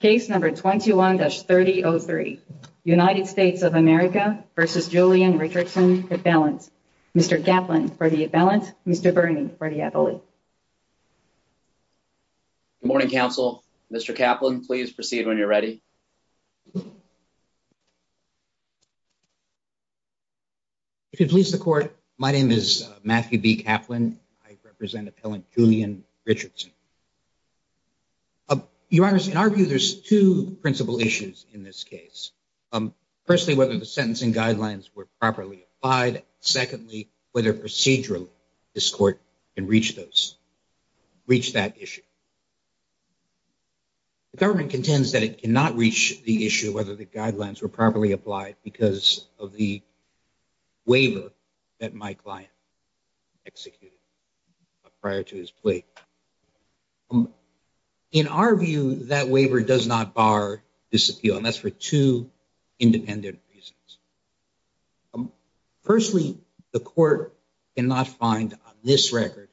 Case number 21-3003 United States of America v. Julien Richardson at balance. Mr. Kaplan for the balance, Mr. Birney for the appellate. Good morning, counsel. Mr. Kaplan, please proceed when you're ready. If it pleases the court, my name is Matthew B. Kaplan. I represent appellant Julien Richardson. Your Honor, in our view, there's two principal issues in this case. Firstly, whether the sentencing guidelines were properly applied. Secondly, whether procedurally this court can reach that issue. The government contends that it cannot reach the issue whether the guidelines were properly applied because of the waiver that my client executed prior to his plea. In our view, that waiver does not bar disappeal and that's for two independent reasons. Firstly, the court cannot find on this record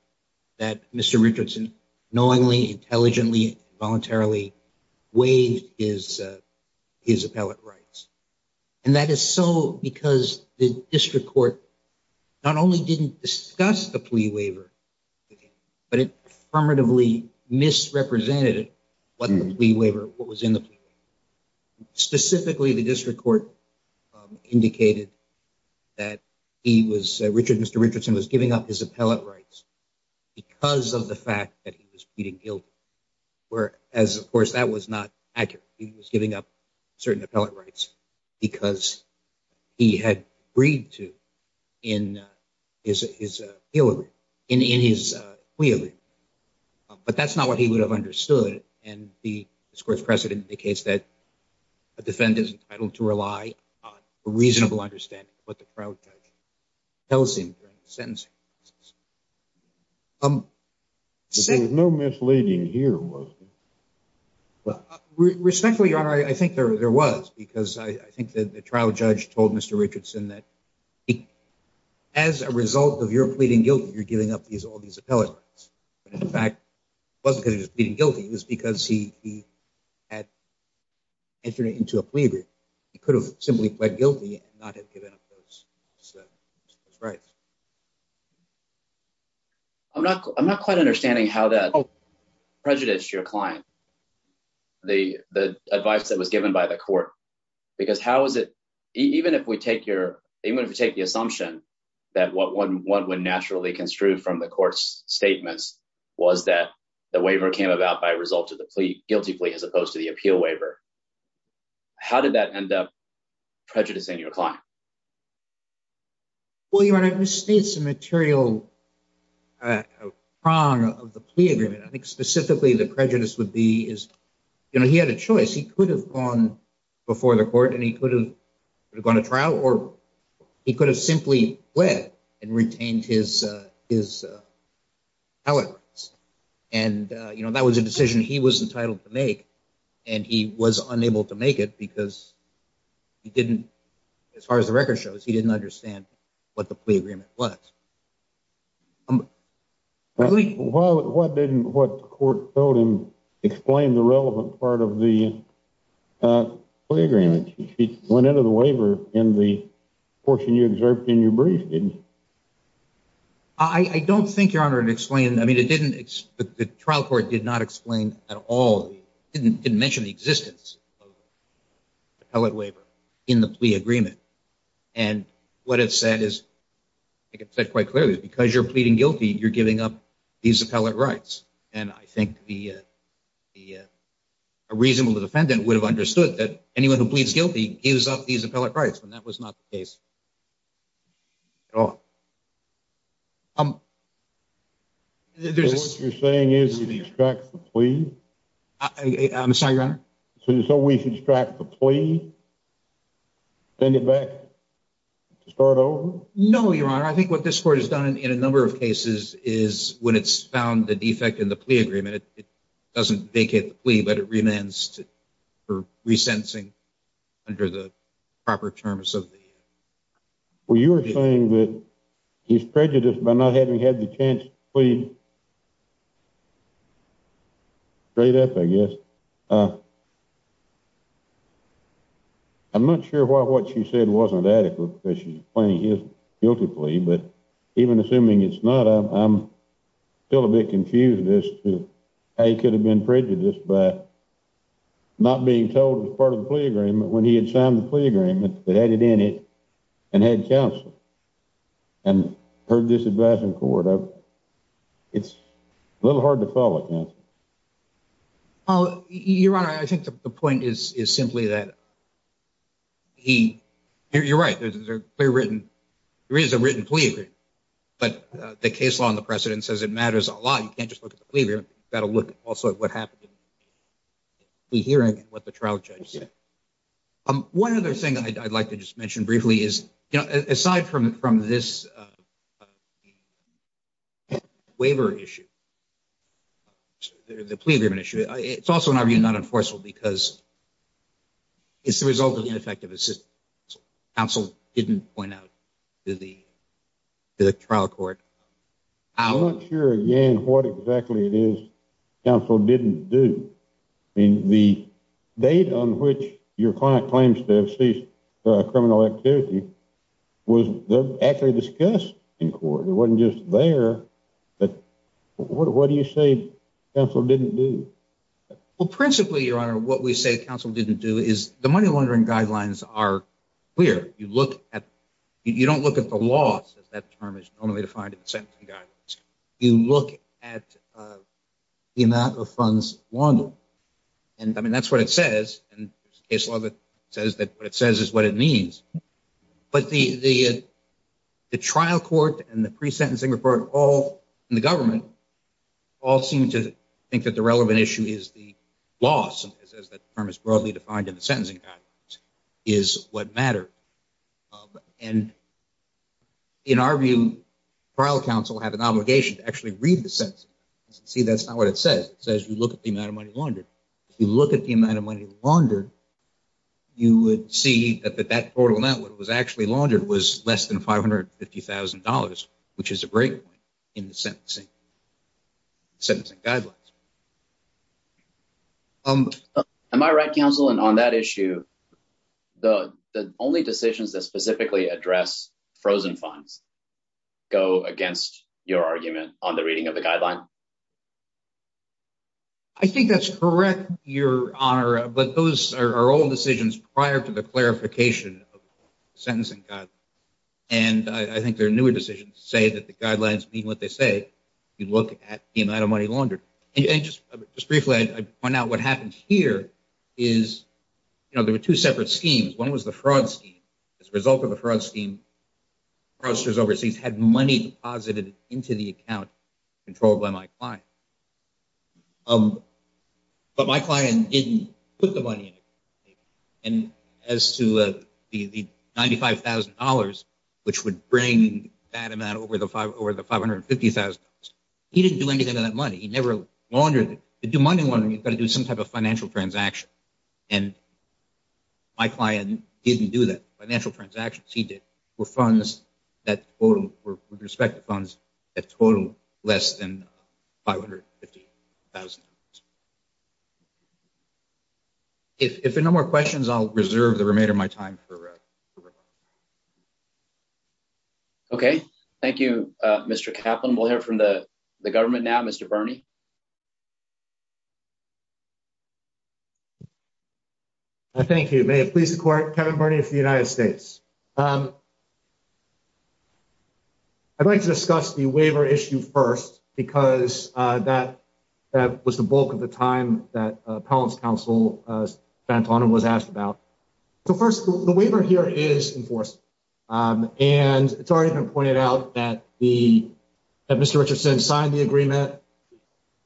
that Mr. Richardson knowingly, intelligently, voluntarily waived his appellate rights. And that is so because the district court not only didn't discuss the plea waiver with him, but it affirmatively misrepresented what the plea waiver, what was in the plea waiver. Specifically, the district court indicated that he was, Richard, Mr. Richardson was giving up his appellate rights because of the fact that he was pleading guilty. Whereas, of course, that was not accurate. He was giving up certain appellate rights because he had agreed to in his plea waiver. But that's not what he would have understood. And the discourse precedent indicates that a defendant is entitled to rely on a reasonable understanding of what the trial judge tells him during the sentencing. There was no misleading here, was there? Respectfully, your honor, I think there was because I think that the trial judge told Mr. Richardson that as a result of your pleading guilty, you're giving up all these appellate rights. But in fact, it wasn't because he was pleading guilty. It was because he had entered into a plea he could have simply pled guilty and not have given up those rights. I'm not quite understanding how that prejudiced your client, the advice that was given by the court. Because how is it, even if we take the assumption that what one would naturally construe from the court's statements was that the waiver came about by result of the guilty as opposed to the appeal waiver. How did that end up prejudicing your client? Well, your honor, I would say it's a material prong of the plea agreement. I think specifically the prejudice would be is, you know, he had a choice. He could have gone before the court and he could have gone to trial or he could have simply pled and retained his appellate rights. And, you know, that was a decision he was entitled to make and he was unable to make it because he didn't, as far as the record shows, he didn't understand what the plea agreement was. What didn't what court told him explain the relevant part of the plea agreement? He went into the waiver in the portion you observed in your brief, didn't he? I don't think, your honor, it explained, I mean, it didn't, the trial court did not explain at all, didn't mention the existence of appellate waiver in the plea agreement. And what it said is, I think it said quite clearly, because you're pleading guilty, you're giving up these appellate rights. And I think the, a reasonable defendant would have understood that anyone who pleads guilty gives up these appellate rights. And that was not the case at all. Um, what you're saying is you distract the plea? I'm sorry, your honor. So we should distract the plea, send it back to start over? No, your honor. I think what this court has done in a number of cases is when it's found the defect in the plea agreement, it doesn't vacate the plea, but it remains for re-sensing under the proper terms of the. Well, you're saying that he's prejudiced by not having had the chance to plead? Straight up, I guess. I'm not sure why what she said wasn't adequate, because she's pleading guilty plea, but even assuming it's not, I'm still a bit confused as to how he could have been prejudiced by not being told it was part of the plea agreement when he had signed the plea agreement that added in it and had counsel and heard this advice in court. It's a little hard to follow, counsel. Well, your honor, I think the point is simply that he, you're right, there is a written plea but the case law and the precedent says it matters a lot. You can't just look at the plea agreement, you've got to look also at what happened in the hearing and what the trial judge said. One other thing I'd like to just mention briefly is, you know, aside from this waiver issue, the plea agreement issue, it's also in our view not enforceable because it's the result of ineffective assistance. Counsel didn't point out to the trial court. I'm not sure again what exactly it is counsel didn't do. I mean, the date on which your client claims to have ceased criminal activity was actually discussed in court. It wasn't just there, but what do you say counsel didn't do? Well, principally, your honor, what we say counsel didn't do is the money laundering guidelines are clear. You look at, you don't look at the law as that term is normally defined in the sentencing guidelines. You look at the amount of funds laundered and, I mean, that's what it says and the case law says that what it says is what it means. But the trial court and the pre-sentencing report all in the government all seem to think that the relevant issue is the loss, as that term is broadly defined in the sentencing guidelines, is what mattered. And in our view, trial counsel have an obligation to actually read the sentence. See, that's not what it says. It says you look at the amount of money laundered, you would see that that portal network was actually laundered was less than $550,000, which is a break point in the sentencing guidelines. Am I right, counsel? And on that issue, the only decisions that specifically address frozen funds go against your argument on the reading of the guideline? I think that's correct, Your Honor, but those are all decisions prior to the clarification of the sentencing guidelines. And I think there are newer decisions to say that the guidelines mean what they say. You look at the amount of money laundered. And just briefly, I point out what happened here is, you know, there were two separate schemes. One was the fraud scheme. As a result of the fraud scheme, processors overseas had money deposited into the account controlled by my client. But my client didn't put the money. And as to the $95,000, which would bring that amount over the $550,000, he didn't do anything to that money. He never laundered it. To do money laundering, you've got to do some type of financial transaction. And my client didn't do that. Financial transactions he did were funds that totaled, with respect to funds, that totaled less than $550,000. If there are no more questions, I'll reserve the remainder of my time for rebuttal. Okay. Thank you, Mr. Kaplan. We'll hear from the government now. Mr. Bernie? Thank you. May it please the Court, Kevin Bernie of the United States. I'd like to discuss the waiver issue first, because that was the bulk of the time that Appellants Council went on and was asked about. So first, the waiver here is enforceable. And it's already been pointed out that Mr. Richardson signed the agreement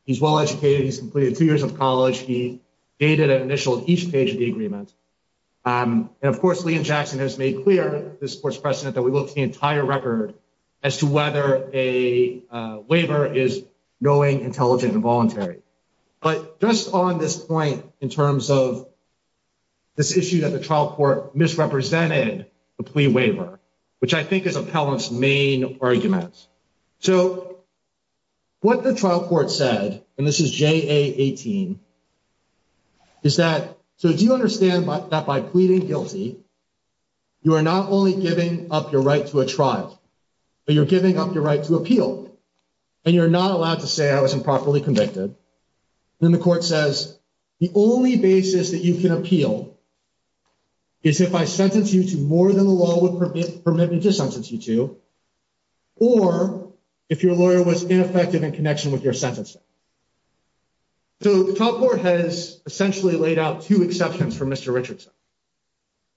he's well-educated, he's completed two years of college, he dated and initialed each page of the agreement. And of course, Liam Jackson has made clear, this Court's precedent, that we look to the entire record as to whether a waiver is knowing, intelligent, and voluntary. But just on this point, in terms of this issue that the trial court misrepresented the plea waiver, which I think is Appellant's main argument. So what the trial court said, and this is JA18, is that, so do you understand that by pleading guilty, you are not only giving up your right to a trial, but you're giving up your right to appeal. And you're not allowed to say, I was improperly convicted. Then the court says, the only basis that you can appeal is if I sentence you to more than the law would permit me to sentence you to, or if your lawyer was ineffective in connection with your sentencing. So the trial court has essentially laid out two exceptions for Mr. Richardson.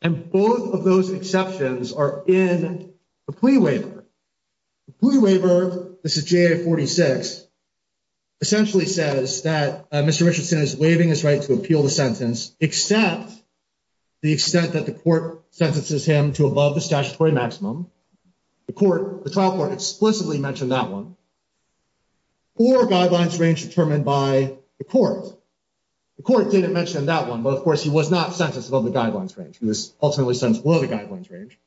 And both of those exceptions are in the plea waiver. The plea waiver, this is JA46, essentially says that Mr. Richardson is waiving his right to appeal the sentence, except the extent that the court sentences him to above the statutory maximum. The trial court explicitly mentioned that one, or guidelines range determined by the court. The court didn't mention that one, but of course he was not sentenced above the guidelines range. He was ultimately sentenced below the guidelines range.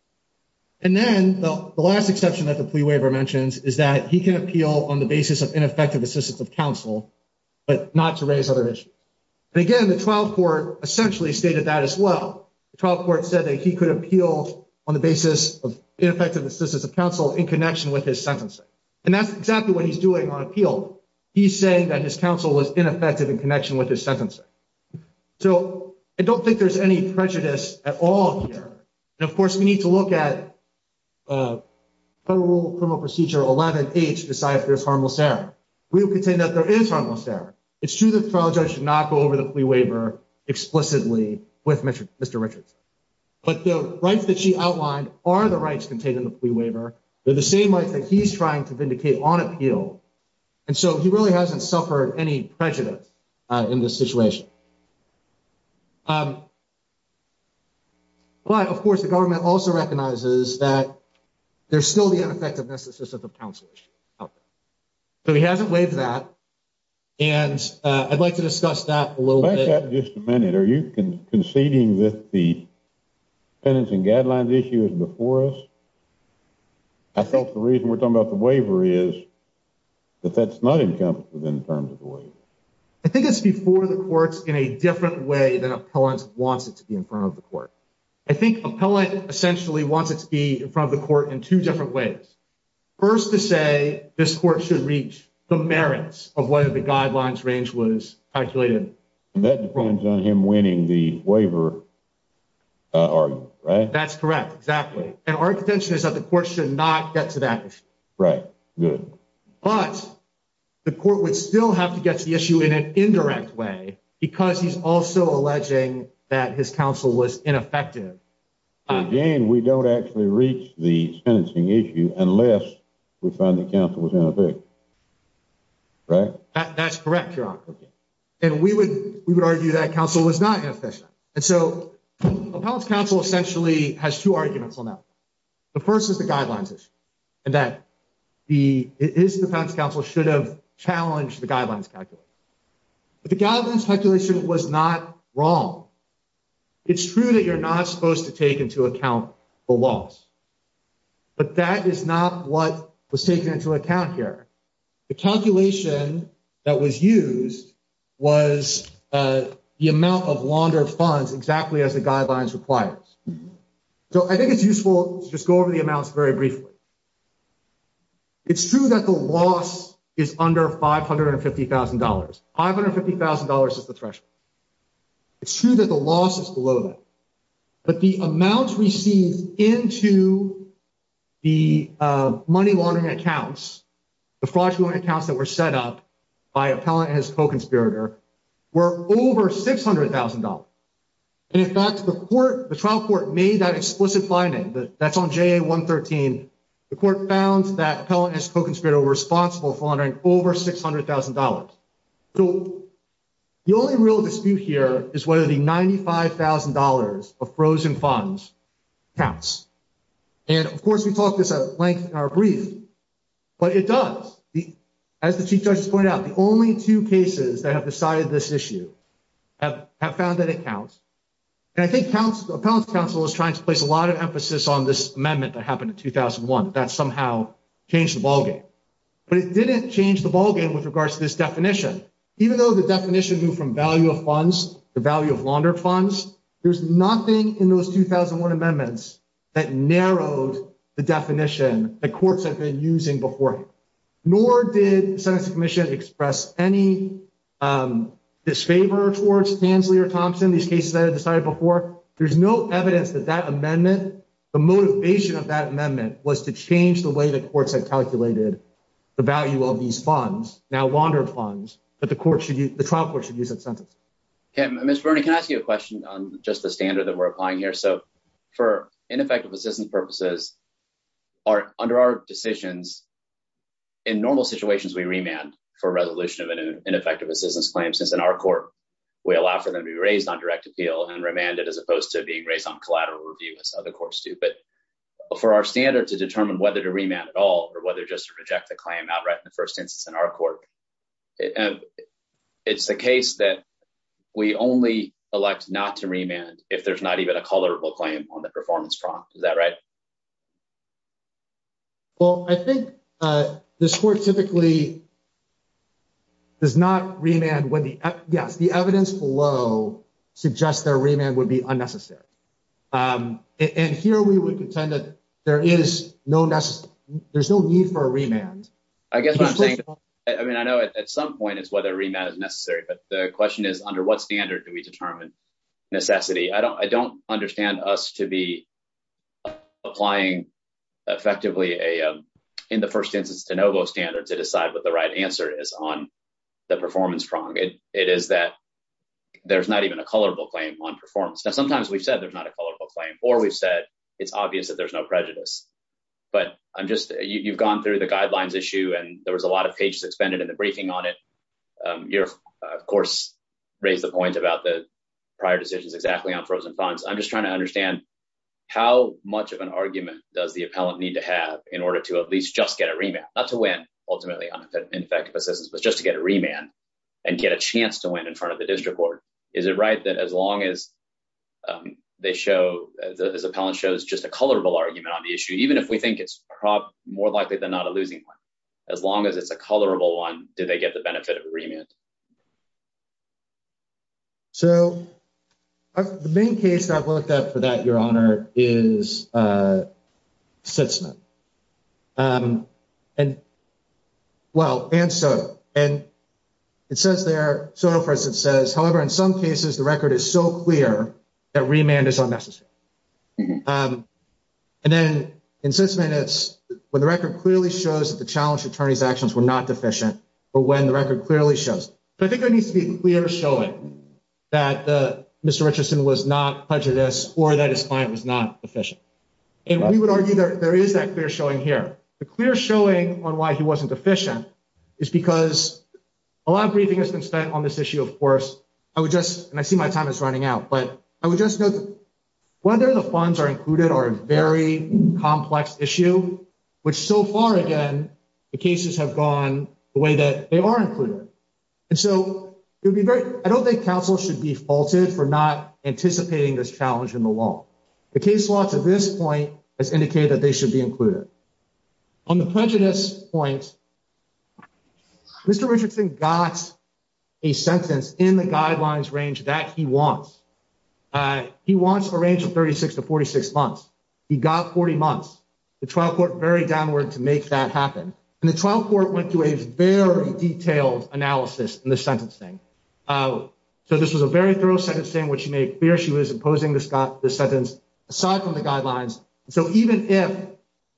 And then the last exception that the plea waiver mentions is that he can appeal on the basis of ineffective assistance of counsel, but not to raise other issues. And again, the trial court essentially stated that as well. The trial court said that he could appeal on the basis of ineffective assistance of counsel in connection with his sentencing. And that's exactly what he's doing on appeal. He's saying that his counsel was ineffective in connection with his sentencing. So I don't think there's any prejudice at all here. And of course we need to look at federal criminal procedure 11H to decide if there's harmless error. We can say that there is harmless error. It's true that the trial judge should not go over the plea waiver explicitly with Mr. Richardson. But the rights that she outlined are the rights contained in the plea waiver. They're the same rights that he's trying to vindicate on appeal. And so he really hasn't suffered any prejudice in this situation. But of course the government also recognizes that there's still the so he hasn't waived that. And I'd like to discuss that a little bit. Back up just a minute. Are you conceding that the penance and guidelines issue is before us? I thought the reason we're talking about the waiver is that that's not encompassed within the terms of the waiver. I think it's before the courts in a different way than appellant wants it to be in front of the court. I think appellant essentially wants it to be in front of the court in two different ways. First to say this court should reach the merits of whether the guidelines range was calculated. That depends on him winning the waiver argument, right? That's correct, exactly. And our intention is that the court should not get to that issue. Right, good. But the court would still have to get to the issue in an indirect way because he's also alleging that his counsel was ineffective. Again we don't actually reach the sentencing issue unless we find the counsel was ineffective, right? That's correct, Your Honor. And we would argue that counsel was not inefficient. And so appellant's counsel essentially has two arguments on that. The first is the guidelines issue and that the, it is the appellant's counsel should have challenged the guidelines calculation. But the guidelines calculation was not wrong. It's true that you're not supposed to take into account the loss. But that is not what was taken into account here. The calculation that was used was the amount of laundered funds exactly as the guidelines requires. So I think it's useful to just go over the amounts very briefly. It's true that the loss is under $550,000. $550,000 is the threshold. It's true that the loss is below that. But the amounts received into the money laundering accounts, the fraudulent accounts that were set up by appellant and his co-conspirator, were over $600,000. And in fact the court, the trial court made that explicit finding. That's on JA 113. The court found that appellant and his co-conspirator were responsible for laundering over $600,000. So the only real dispute here is whether the $95,000 of frozen funds counts. And of course, we talked this at length in our brief, but it does. As the Chief Judge has pointed out, the only two cases that have decided this issue have found that it counts. And I think appellant's counsel is trying to place a lot of emphasis on this amendment that happened in 2001, that somehow changed the ballgame. But it didn't change the ballgame with regards to this definition. Even though the definition moved from value of funds to value of laundered funds, there's nothing in those 2001 amendments that narrowed the definition that courts have been using before. Nor did the Sentencing Commission express any disfavor towards Tansley or Thompson, these cases that had decided before. There's no evidence that that amendment, the motivation of that amendment, was to change the way the courts had calculated the value of these funds, now laundered funds, that the trial court should use in sentencing. Okay, Mr. Bernie, can I ask you a question on just the standard that we're applying here? So for ineffective assistance purposes, under our decisions, in normal situations, we remand for resolution of an ineffective assistance claim, since in our court, we allow for them to be raised on direct appeal and remanded as opposed to being raised on collateral review, as other standard to determine whether to remand at all or whether just to reject the claim outright in the first instance in our court. It's the case that we only elect not to remand if there's not even a collateral claim on the performance prompt. Is that right? Well, I think this court typically does not remand when the, yes, the evidence below suggests that a remand would be unnecessary. Um, and here we would contend that there is no necessary, there's no need for a remand. I guess what I'm saying, I mean, I know at some point it's whether remand is necessary, but the question is, under what standard do we determine necessity? I don't, I don't understand us to be applying effectively a, um, in the first instance de novo standard to decide what the right answer is on the performance prong. It is that there's not even a collateral claim on performance. Now, sometimes we've said there's not a collateral claim or we've said it's obvious that there's no prejudice, but I'm just, you've gone through the guidelines issue and there was a lot of pages expended in the briefing on it. Um, you're of course raised the point about the prior decisions exactly on frozen funds. I'm just trying to understand how much of an argument does the appellant need to have in order to at least just get a remand, not to win ultimately on ineffective assistance, but just to get a remand and get a chance to win in front of the district court. Is it right that as long as, um, they show the, this appellant shows just a colorable argument on the issue, even if we think it's probably more likely than not a losing one, as long as it's a colorable one, do they get the benefit of remand? So the main case that I've looked at for that, your honor is, uh, Sitzman. Um, and, well, and and it says there, so for instance, it says, however, in some cases, the record is so clear that remand is unnecessary. Um, and then in six minutes, when the record clearly shows that the challenge attorney's actions were not deficient, but when the record clearly shows, but I think there needs to be a clear showing that the Mr. Richardson was not prejudice or that his client was not efficient. And we would argue that there is that clear showing here, the clear showing on why he wasn't efficient is because a lot of briefing has been spent on this issue. Of course, I would just, and I see my time is running out, but I would just know whether the funds are included or a very complex issue, which so far again, the cases have gone the way that they are included. And so it would be great. I don't think council should be faulted for not anticipating this challenge in the law. The case law to this point has indicated that they should be included on the prejudice point. Mr. Richardson got a sentence in the guidelines range that he wants. He wants a range of 36 to 46 months. He got 40 months, the trial court very downward to make that happen. And the trial court went to a very detailed analysis in the sentencing. So this was a very thorough sentence saying what she made clear. She was imposing this aside from the guidelines. So even if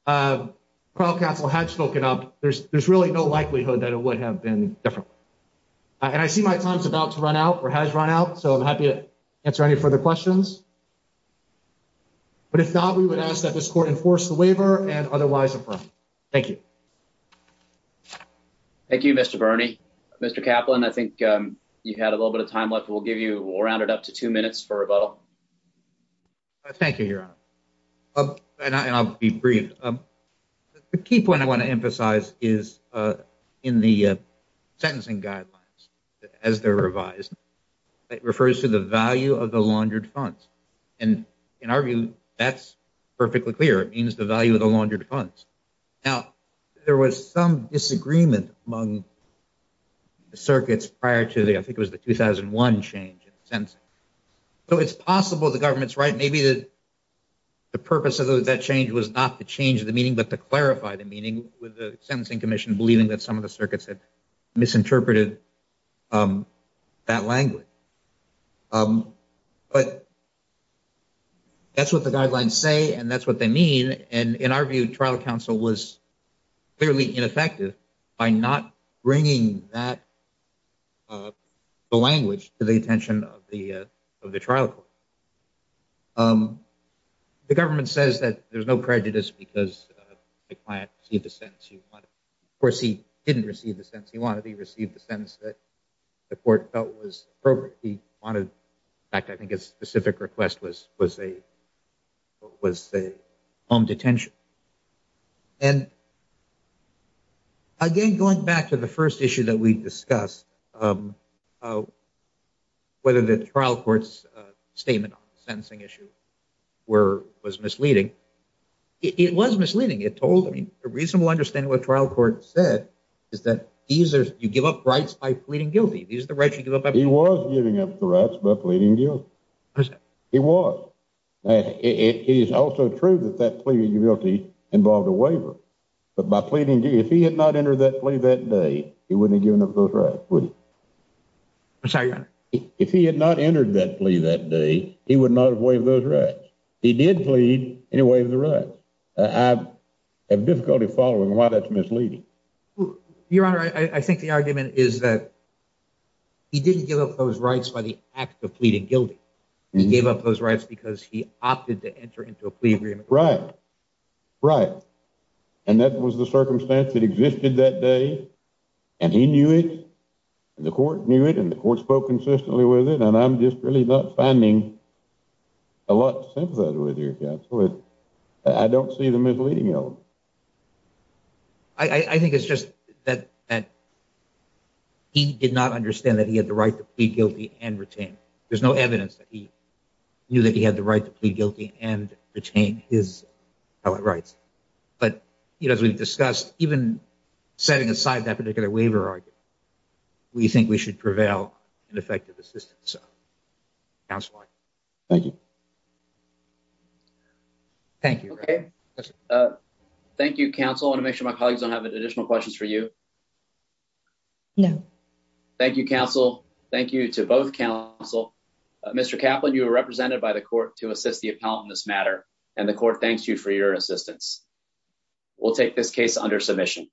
a trial council had spoken up, there's, there's really no likelihood that it would have been different. And I see my time's about to run out or has run out. So I'm happy to answer any further questions, but if not, we would ask that this court enforce the waiver and otherwise affirm. Thank you. Thank you, Mr. Bernie, Mr. Kaplan. I think you had a little bit of time left. We'll give you, we'll round it up to two minutes for rebuttal. Thank you, Your Honor. And I'll be brief. The key point I want to emphasize is in the sentencing guidelines as they're revised, it refers to the value of the laundered funds. And in our view, that's perfectly clear. It means the value of the laundered funds. Now, there was some disagreement among the circuits prior to the, I think it was the 2001 change in sentencing. So it's possible the government's right. Maybe the, the purpose of that change was not to change the meaning, but to clarify the meaning with the sentencing commission, believing that some of the circuits had misinterpreted that language. But that's what the guidelines say, and that's what they mean. And in our view, trial counsel was clearly ineffective by not bringing that, the language to the attention of the, of the trial court. The government says that there's no prejudice because the client received the sentence he wanted. Of course, he didn't receive the sentence he wanted, he received the sentence that the court felt was appropriate. He wanted, in fact, I think his specific request was a home detention. And again, going back to the first issue that we discussed, whether the trial court's statement on the sentencing issue were, was misleading. It was misleading. It told, I mean, a reasonable understanding what trial court said is that these are, you give up rights by pleading guilty. These are the rights you give up. He was giving up the rights by pleading guilty. He was. It is also true that that pleading guilty involved a waiver, but by pleading guilty, if he had not entered that plea that day, he wouldn't have given up those rights, would he? I'm sorry, your honor. If he had not entered that plea that day, he would not have waived those rights. He did plead and he waived the rights. I have difficulty following why that's misleading. Your honor, I think the argument is that he didn't give up those rights by the act of pleading guilty. He gave up those rights because he opted to enter into a plea agreement. Right. Right. And that was the circumstance that existed that day. And he knew it. And the court knew it. And the court spoke consistently with it. And I'm just really not finding a lot to sympathize with your counsel. I don't see the misleading element. I think it's just that he did not understand that he had the right to plead guilty and retain. There's no evidence that he knew that he had the right to plead guilty and retain his rights. But, you know, as we've discussed, even setting aside that particular waiver argument, we think we should prevail in effective assistance. Counselor, thank you. Thank you. Okay. Thank you, counsel. I want to make sure my colleagues don't have additional questions for you. No. Thank you, counsel. Thank you to both counsel. Mr. Kaplan, you were represented by the court to assist the appellant in this matter. And the court thanks you for your assistance. We'll take this case under submission.